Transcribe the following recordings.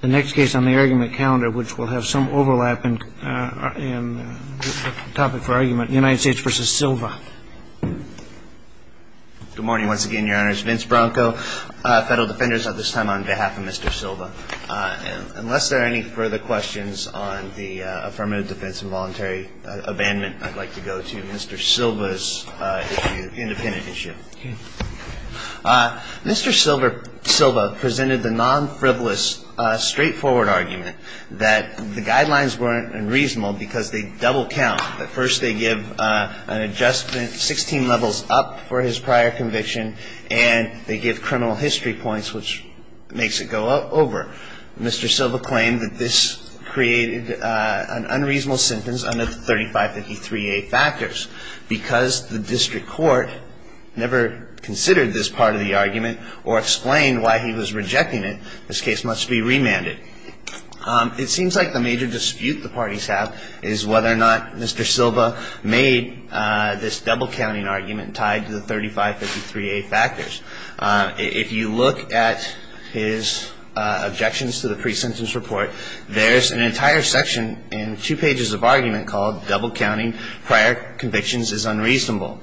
The next case on the argument calendar, which will have some overlap in the topic for argument, United States v. Silva. Good morning once again, your honors. Vince Bronco, federal defenders at this time on behalf of Mr. Silva. Unless there are any further questions on the affirmative defense and voluntary abandonment, I'd like to go to Mr. Silva's independent issue. Mr. Silva presented the non-frivolous, straightforward argument that the guidelines weren't unreasonable because they double count. At first they give an adjustment 16 levels up for his prior conviction, and they give criminal history points, which makes it go over. Mr. Silva claimed that this created an unreasonable sentence under the 3553A factors. Because the district court never considered this part of the argument or explained why he was rejecting it, this case must be remanded. It seems like the major dispute the parties have is whether or not Mr. Silva made this double counting argument tied to the 3553A factors. If you look at his objections to the pre-sentence report, there's an entire section in two pages of argument called double counting prior convictions is unreasonable.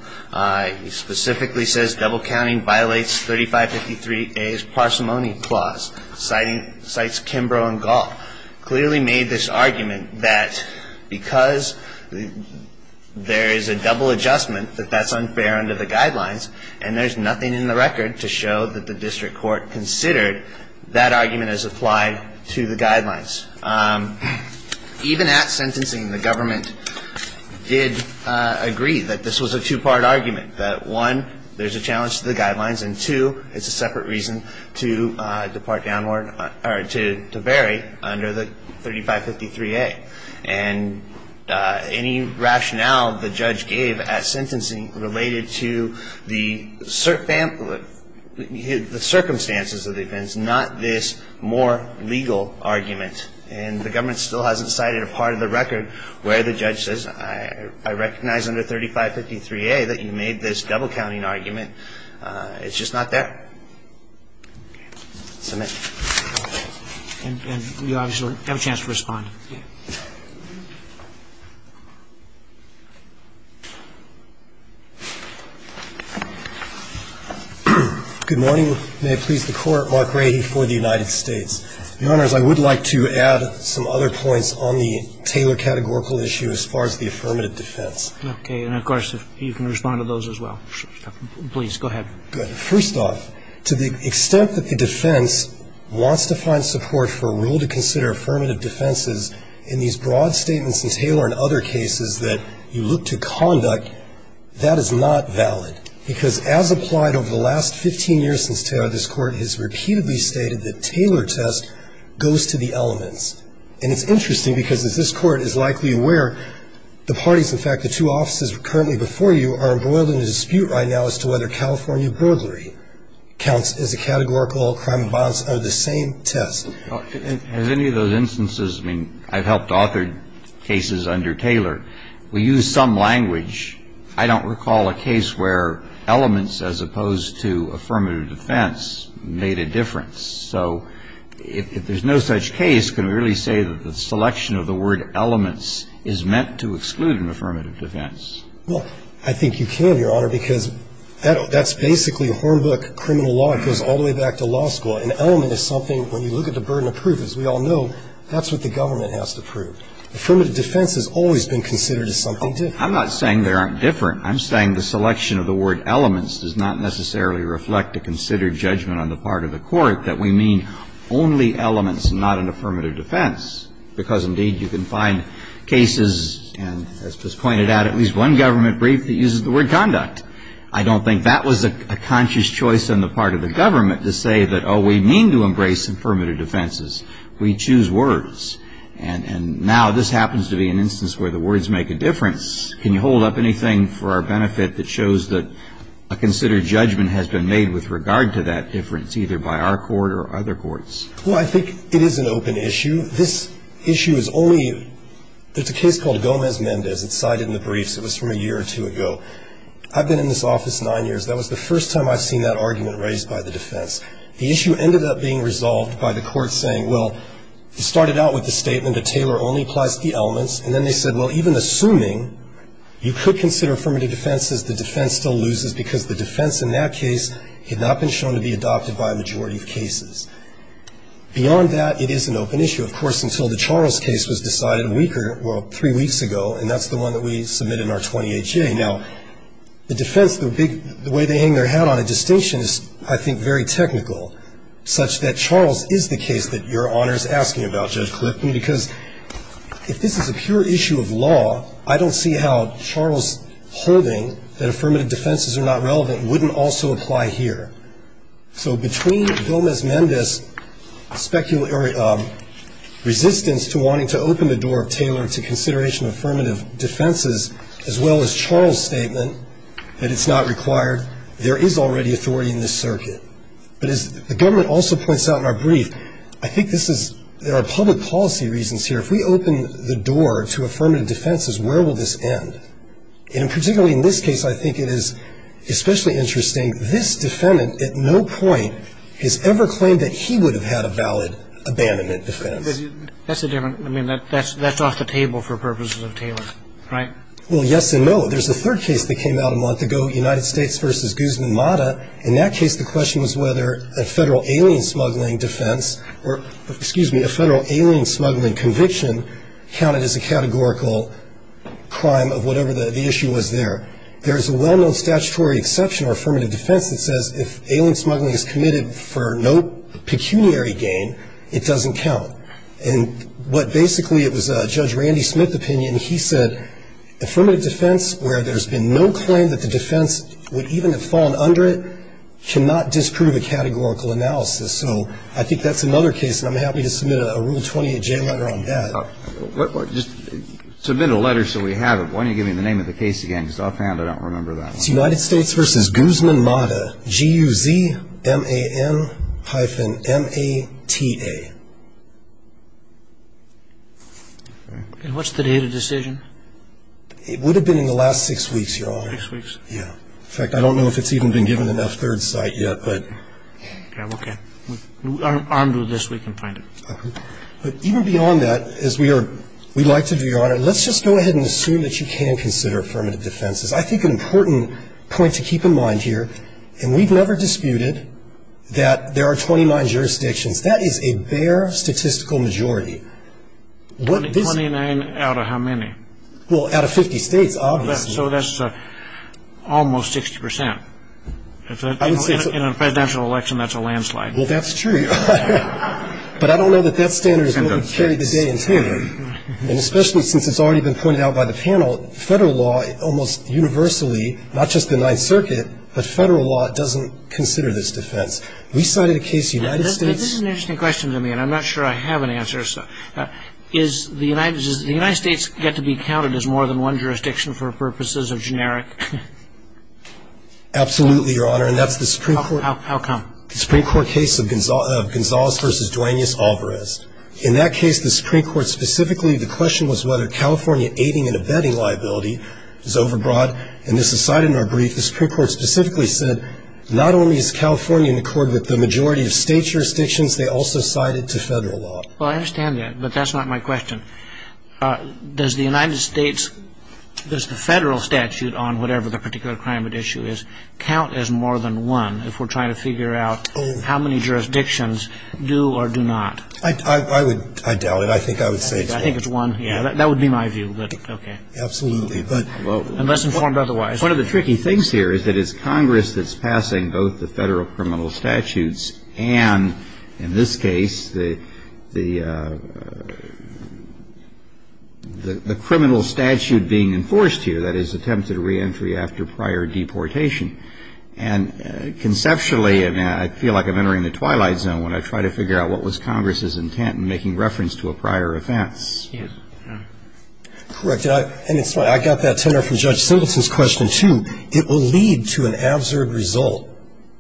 He specifically says double counting violates 3553A's parsimony clause, cites Kimbrough and Gaul. Mr. Silva clearly made this argument that because there is a double adjustment that that's unfair under the guidelines, and there's nothing in the record to show that the district court considered, that argument is applied to the guidelines. Even at sentencing, the government did agree that this was a two-part argument, that one, there's a challenge to the guidelines, and two, it's a separate reason to depart downward or to vary under the 3553A. And any rationale the judge gave at sentencing related to the circumstances of the offense, not this more legal argument. And the government still hasn't cited a part of the record where the judge says, I recognize under 3553A that you made this double counting argument. It's just not there. Submit. And you obviously have a chance to respond. Good morning. May it please the Court. Mark Rahe for the United States. Your Honor, I would like to add some other points on the Taylor categorical issue as far as the affirmative defense. Okay. And of course, you can respond to those as well. Please, go ahead. Good. First off, to the extent that the defense wants to find support for a rule to consider affirmative defenses in these broad statements in Taylor and other cases that you look to conduct, that is not valid, because as applied over the last 15 years since Taylor, this Court has repeatedly stated that Taylor test goes to the elements. And it's interesting because as this Court is likely aware, the parties, in fact, the two offices currently before you are embroiled in a dispute right now as to whether California burglary counts as a categorical crime of violence under the same test. Has any of those instances, I mean, I've helped author cases under Taylor. We use some language. I don't recall a case where elements as opposed to affirmative defense made a difference. So if there's no such case, can we really say that the selection of the word elements is meant to exclude an affirmative defense? Well, I think you can, Your Honor, because that's basically hornbook criminal law. It goes all the way back to law school. An element is something, when you look at the burden of proof, as we all know, that's what the government has to prove. Affirmative defense has always been considered as something different. I'm not saying there aren't different. I'm saying the selection of the word elements does not necessarily reflect a considered judgment on the part of the Court that we mean only elements and not an affirmative defense because, indeed, you can find cases, and as was pointed out, at least one government brief that uses the word conduct. I don't think that was a conscious choice on the part of the government to say that, oh, we mean to embrace affirmative defenses. We choose words. And now this happens to be an instance where the words make a difference. Can you hold up anything for our benefit that shows that a considered judgment has been made with regard to that difference, either by our Court or other courts? Well, I think it is an open issue. This issue is only the case called Gomez-Mendez. It's cited in the briefs. It was from a year or two ago. I've been in this office nine years. That was the first time I've seen that argument raised by the defense. The issue ended up being resolved by the court saying, well, it started out with the statement that Taylor only applies to the elements, and then they said, well, even assuming you could consider affirmative defenses, the defense still loses because the defense in that case had not been shown to be adopted by a majority of cases. Beyond that, it is an open issue, of course, until the Charles case was decided a week or three weeks ago, and that's the one that we submitted in our 28-J. Now, the defense, the way they hang their hat on it, the distinction is, I think, very technical, such that Charles is the case that Your Honor is asking about, Judge Clifton, because if this is a pure issue of law, I don't see how Charles holding that affirmative defenses are not relevant wouldn't also apply here. So between Gomez-Mendez' speculative resistance to wanting to open the door of Taylor to consideration of affirmative defenses, as well as Charles' statement that it's not required, there is already authority in this circuit. But as the government also points out in our brief, I think this is, there are public policy reasons here. If we open the door to affirmative defenses, where will this end? And particularly in this case, I think it is especially interesting, this defendant at no point has ever claimed that he would have had a valid abandonment defense. That's a different, I mean, that's off the table for purposes of Taylor, right? Well, yes and no. There's a third case that came out a month ago, United States v. Guzman-Mata. In that case, the question was whether a federal alien smuggling defense or, excuse me, a federal alien smuggling conviction counted as a categorical crime of whatever the issue was there. There's a well-known statutory exception or affirmative defense that says if alien basically, it was Judge Randy Smith's opinion. He said affirmative defense, where there's been no claim that the defense would even have fallen under it, cannot disprove a categorical analysis. So I think that's another case, and I'm happy to submit a Rule 28J letter on that. Just submit a letter so we have it. Why don't you give me the name of the case again? Because offhand, I don't remember that one. It's United States v. Guzman-Mata, G-U-Z-M-A-N-hyphen-M-A-T-A. And what's the date of decision? It would have been in the last six weeks, Your Honor. Six weeks? Yeah. In fact, I don't know if it's even been given enough third sight yet, but. Okay. Armed with this, we can find it. But even beyond that, as we are, we'd like to do, Your Honor, let's just go ahead and assume that you can consider affirmative defenses. I think an important point to keep in mind here, and we've never disputed that there are 29 jurisdictions. That is a bare statistical majority. Twenty-nine out of how many? Well, out of 50 states, obviously. So that's almost 60%. In a presidential election, that's a landslide. Well, that's true. But I don't know that that standard is going to carry the day in tenure. And especially since it's already been pointed out by the panel, federal law, almost universally, not just the Ninth Circuit, but federal law, doesn't consider this defense. We cited a case in the United States. This is an interesting question to me, and I'm not sure I have an answer. Does the United States get to be counted as more than one jurisdiction for purposes of generic? Absolutely, Your Honor, and that's the Supreme Court. How come? The Supreme Court case of Gonzales v. Duaneus Alvarez. In that case, the Supreme Court specifically, the question was whether California aiding and abetting liability is overbroad. And this is cited in our brief. The Supreme Court specifically said, not only is California in accord with the majority of state jurisdictions, they also cite it to federal law. Well, I understand that, but that's not my question. Does the United States, does the federal statute on whatever the particular crime at issue is, count as more than one if we're trying to figure out how many jurisdictions do or do not? I doubt it. I think I would say it's one. I think it's one. That would be my view. Okay. Absolutely. Unless informed otherwise. One of the tricky things here is that it's Congress that's passing both the federal criminal statutes and, in this case, the criminal statute being enforced here, that is, attempted reentry after prior deportation. And conceptually, I feel like I'm entering the twilight zone when I try to figure out what was Congress's intent in making reference to a prior offense. Correct. And it's funny. I got that tenor from Judge Simpleton's question, too. It will lead to an absurd result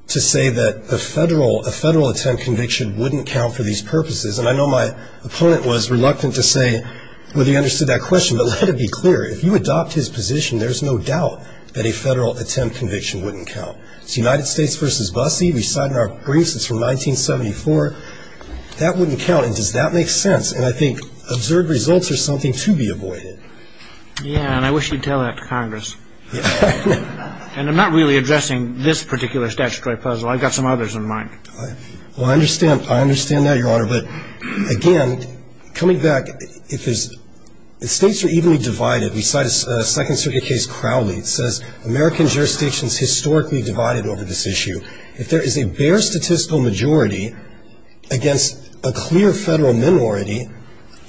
to say that the federal, a federal attempt conviction wouldn't count for these purposes. And I know my opponent was reluctant to say whether he understood that question, but let it be clear, if you adopt his position, there's no doubt that a federal attempt conviction wouldn't count. It's United States v. Busse. We've cited our briefs. It's from 1974. That wouldn't count. And does that make sense? And I think absurd results are something to be avoided. Yeah, and I wish you'd tell that to Congress. And I'm not really addressing this particular statutory puzzle. I've got some others in mind. Well, I understand. I understand that, Your Honor. But, again, coming back, if there's the states are evenly divided. We cite a Second Circuit case Crowley. It says American jurisdictions historically divided over this issue. If there is a bare statistical majority against a clear federal minority,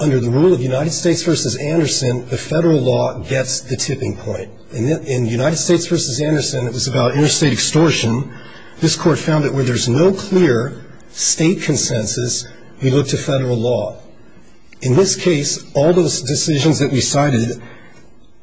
under the rule of United States v. Anderson, the federal law gets the tipping point. In United States v. Anderson, it was about interstate extortion. This Court found that where there's no clear state consensus, we look to federal law. In this case, all those decisions that we cited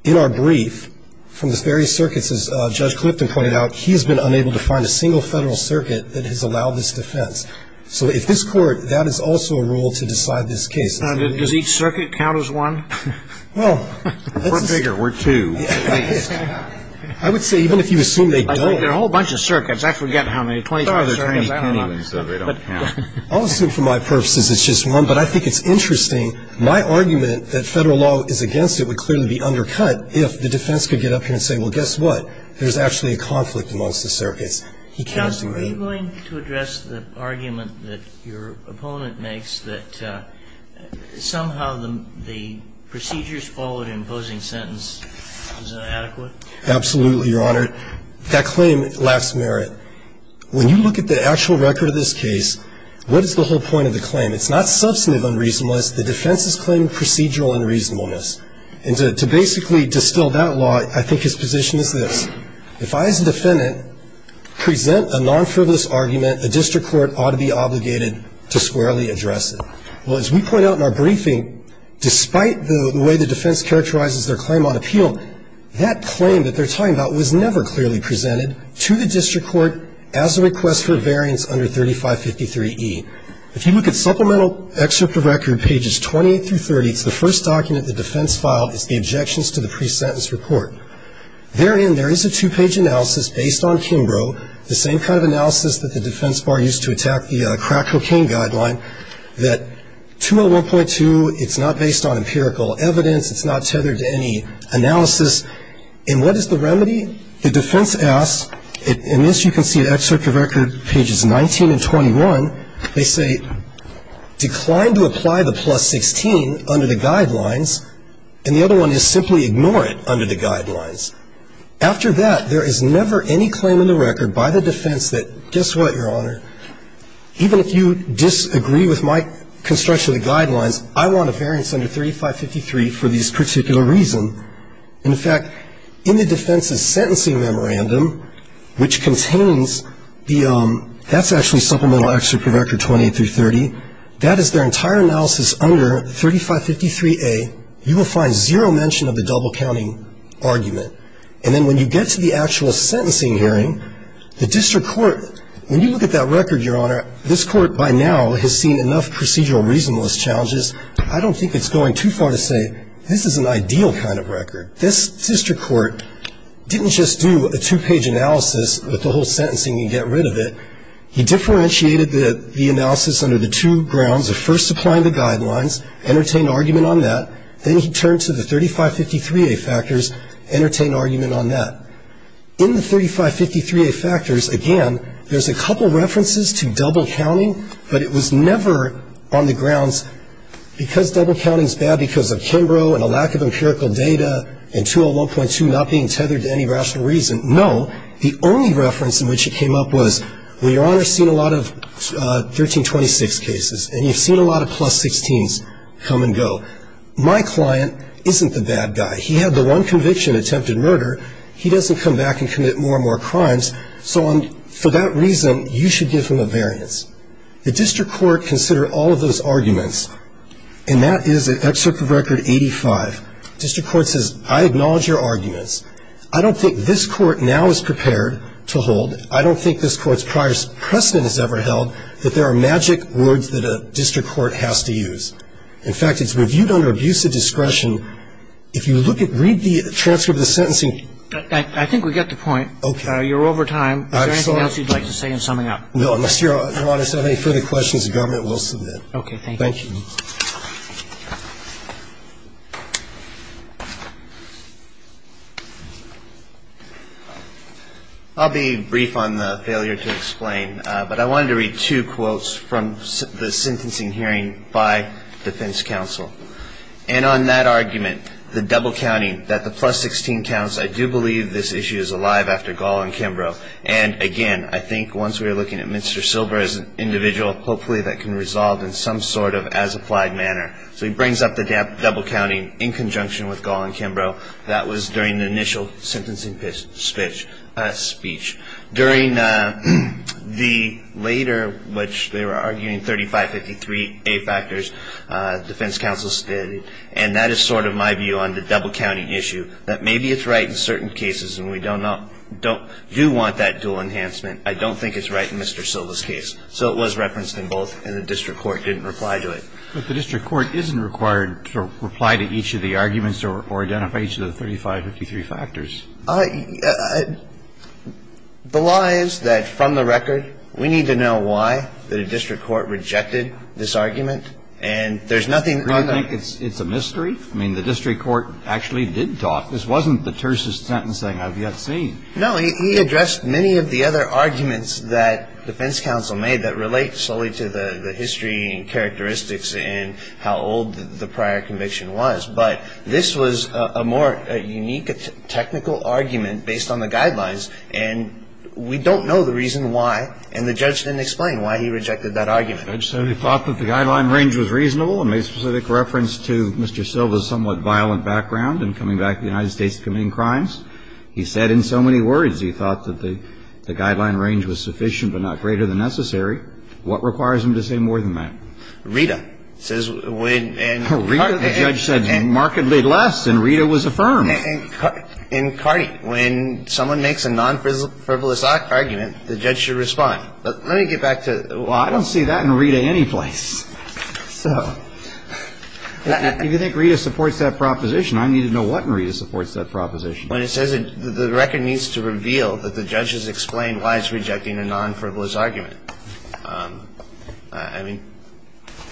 in our brief from the various circuits, as Judge Clifton pointed out, he's been unable to find a single federal circuit that has allowed this defense. So if this Court, that is also a rule to decide this case. Does each circuit count as one? Well. We're bigger. We're two. I would say even if you assume they don't. There are a whole bunch of circuits. I forget how many. 25 circuits. I don't know. I'll assume for my purposes it's just one. But I think it's interesting. My argument that federal law is against it would clearly be undercut if the defense could get up here and say, well, guess what? There's actually a conflict amongst the circuits. If the defense could get up here and say, well, guess what? There's actually a conflict amongst the circuits. He cannot do that. Counsel, are you going to address the argument that your opponent makes that somehow the procedures followed in imposing sentence is inadequate? Absolutely, Your Honor. That claim lacks merit. When you look at the actual record of this case, what is the whole point of the claim? It's not substantive unreasonableness. The defense is claiming procedural unreasonableness. And to basically distill that law, I think his position is this. If I, as a defendant, present a non-frivolous argument, a district court ought to be obligated to squarely address it. Well, as we point out in our briefing, despite the way the defense characterizes their claim on appeal, that claim that they're talking about was never clearly presented to the district court as a request for variance under 3553E. If you look at supplemental excerpt of record, pages 28 through 30, the first document the defense filed is the objections to the pre-sentence report. Therein, there is a two-page analysis based on Kimbrough, the same kind of analysis that the defense bar used to attack the crack cocaine guideline, that 201.2, it's not based on empirical evidence, it's not tethered to any analysis. And what is the remedy? The defense asks, and this you can see in excerpt of record pages 19 and 21, they say, decline to apply the plus 16 under the guidelines, and the other one is simply ignore it under the guidelines. After that, there is never any claim in the record by the defense that, guess what, Your Honor, even if you disagree with my construction of the guidelines, I want a variance under 3553 for this particular reason. In fact, in the defense's sentencing memorandum, which contains the, that's actually supplemental excerpt of record 28 through 30, that is their entire analysis under 3553A, you will find zero mention of the double counting argument. And then when you get to the actual sentencing hearing, the district court, when you look at that record, Your Honor, this court by now has seen enough procedural reasonableness challenges, I don't think it's going too far to say this is an ideal kind of record. This district court didn't just do a two-page analysis with the whole sentencing and get rid of it. He differentiated the analysis under the two grounds of first applying the guidelines, entertain argument on that, then he turned to the 3553A factors, entertain argument on that. In the 3553A factors, again, there's a couple references to double counting, but it was never on the grounds because double counting is bad because of Kimbrough and a lack of empirical data and 201.2 not being tethered to any rational reason. No, the only reference in which it came up was, well, Your Honor's seen a lot of 1326 cases, and you've seen a lot of plus 16s come and go. My client isn't the bad guy. He had the one conviction, attempted murder. He doesn't come back and commit more and more crimes, so for that reason, you should give him a variance. The district court considered all of those arguments, and that is an excerpt from record 85. District court says, I acknowledge your arguments. I don't think this Court now is prepared to hold. I don't think this Court's prior precedent has ever held that there are magic words that a district court has to use. In fact, it's reviewed under abusive discretion. If you look at the transcript of the sentencing. Roberts. I think we get the point. You're over time. Is there anything else you'd like to say in summing up? No. Unless Your Honor has any further questions, the government will submit. Thank you. Thank you. Thank you. I'll be brief on the failure to explain, but I wanted to read two quotes from the sentencing hearing by defense counsel. And on that argument, the double counting, that the plus 16 counts, I do believe this issue is alive after Gall and Kimbrough. And again, I think once we are looking at Mr. Silber as an individual, hopefully that can resolve in some sort of as-applied manner. So he brings up the double counting in conjunction with Gall and Kimbrough. That was during the initial sentencing speech. During the later, which they were arguing, 3553A factors, defense counsel stated, and that is sort of my view on the double counting issue, that maybe it's right in certain cases and we do want that dual enhancement. I don't think it's right in Mr. Silber's case. So it was referenced in both, and the district court didn't reply to it. But the district court isn't required to reply to each of the arguments or identify each of the 3553 factors. The law is that from the record, we need to know why the district court rejected this argument. And there's nothing on the – Do you think it's a mystery? I mean, the district court actually did talk. This wasn't the tersest sentencing I've yet seen. No, he addressed many of the other arguments that defense counsel made that relate solely to the history and characteristics and how old the prior conviction was. But this was a more unique technical argument based on the guidelines, and we don't know the reason why. And the judge didn't explain why he rejected that argument. The judge said he thought that the guideline range was reasonable and made specific reference to Mr. Silber's somewhat violent background in coming back to the United States and committing crimes. He said in so many words he thought that the guideline range was sufficient but not greater than necessary. What requires him to say more than that? Rita says when – Rita, the judge said, markedly less, and Rita was affirmed. In Cardi, when someone makes a non-frivolous argument, the judge should respond. But let me get back to – Well, I don't see that in Rita any place. So if you think Rita supports that proposition, I need to know what Rita supports that proposition. When it says the record needs to reveal that the judge has explained why he's rejecting a non-frivolous argument, I mean,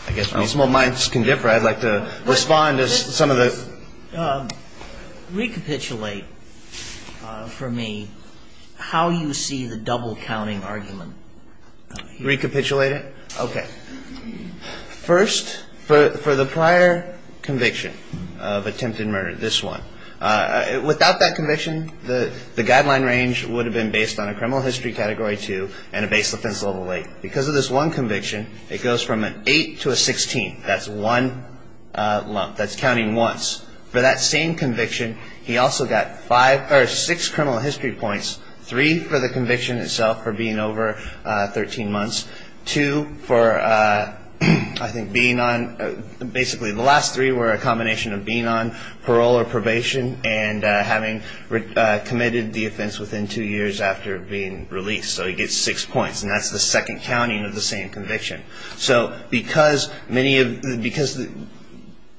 I guess my small minds can differ. I'd like to respond to some of the – Recapitulate for me how you see the double-counting argument. Recapitulate it? Okay. First, for the prior conviction of attempted murder, this one, without that conviction, the guideline range would have been based on a criminal history Category 2 and a base offense level 8. Because of this one conviction, it goes from an 8 to a 16. That's one lump. That's counting once. For that same conviction, he also got five – or six criminal history points, three for the conviction itself for being over 13 months, two for, I think, being on – and having committed the offense within two years after being released. So he gets six points, and that's the second counting of the same conviction. So because many of – because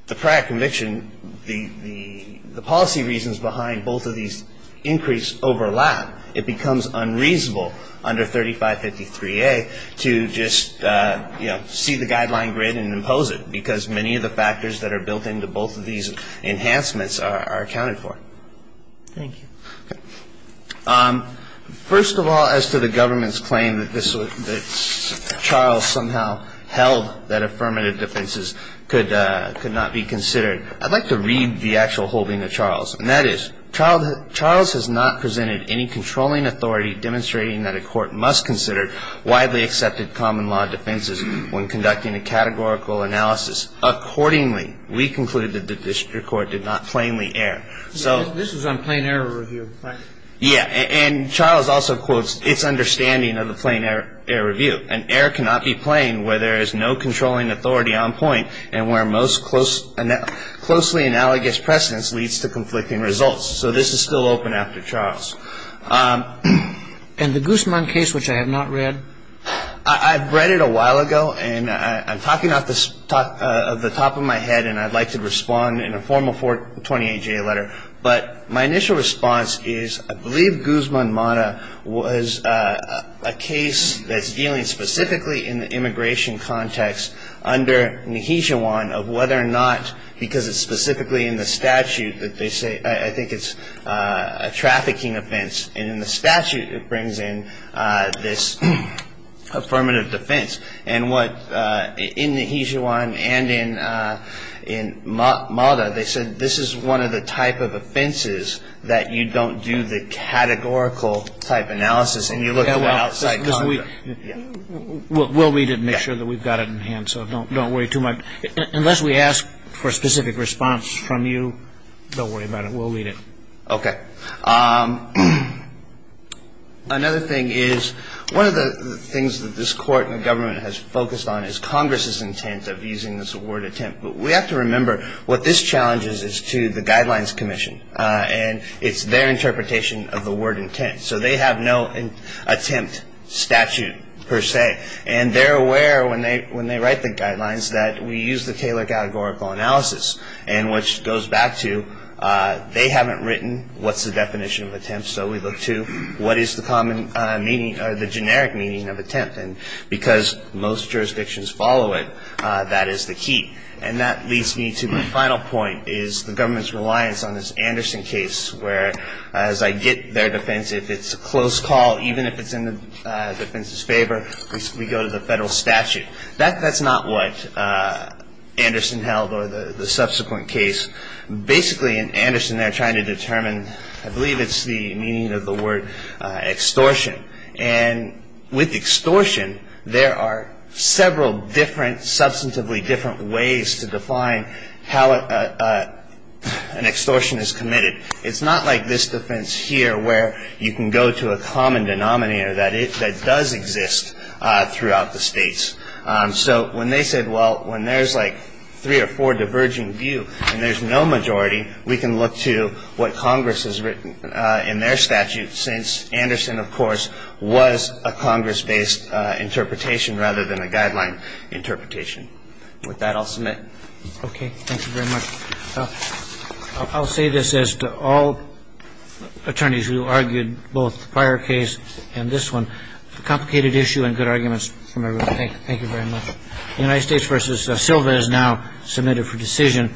the prior conviction, the policy reasons behind both of these increase overlap, it becomes unreasonable under 3553A to just, you know, see the guideline grid and impose it. Because many of the factors that are built into both of these enhancements are accounted for. Thank you. Okay. First of all, as to the government's claim that this was – that Charles somehow held that affirmative defenses could not be considered, I'd like to read the actual holding of Charles. And that is, Charles has not presented any controlling authority demonstrating that a court must consider widely accepted common law defenses when conducting a categorical analysis. Accordingly, we conclude that the district court did not plainly err. So – This was on plain error review, right? Yeah. And Charles also quotes its understanding of the plain error review. An error cannot be plain where there is no controlling authority on point and where most closely analogous precedence leads to conflicting results. So this is still open after Charles. And the Guzman case, which I have not read? I've read it a while ago, and I'm talking off the top of my head, and I'd like to respond in a formal 428-J letter. But my initial response is I believe Guzman-Mata was a case that's dealing specifically in the immigration context under Nihishawan of whether or not, because it's specifically in the statute that they say – and in the statute it brings in this affirmative defense. And what – in Nihishawan and in Mata, they said this is one of the type of offenses that you don't do the categorical type analysis and you look at the outside context. We'll read it and make sure that we've got it in hand, so don't worry too much. Unless we ask for a specific response from you, don't worry about it. We'll read it. Okay. Another thing is one of the things that this court and government has focused on is Congress's intent of using this word attempt. But we have to remember what this challenges is to the Guidelines Commission, and it's their interpretation of the word intent. So they have no attempt statute per se, and they're aware when they write the guidelines that we use the Taylor categorical analysis, and which goes back to they haven't written what's the definition of attempt, so we look to what is the common meaning or the generic meaning of attempt. And because most jurisdictions follow it, that is the key. And that leads me to my final point is the government's reliance on this Anderson case where as I get their defense, if it's a close call, even if it's in the defense's favor, we go to the federal statute. That's not what Anderson held or the subsequent case. Basically, in Anderson, they're trying to determine, I believe it's the meaning of the word extortion. And with extortion, there are several different, substantively different ways to define how an extortion is committed. It's not like this defense here where you can go to a common denominator that does exist throughout the states. So when they said, well, when there's like three or four diverging view and there's no majority, we can look to what Congress has written in their statute since Anderson, of course, was a Congress-based interpretation rather than a guideline interpretation. With that, I'll submit. Okay. Thank you very much. I'll say this as to all attorneys who argued both the prior case and this one, a complicated issue and good arguments from everyone. Thank you very much. The United States v. Silva is now submitted for decision.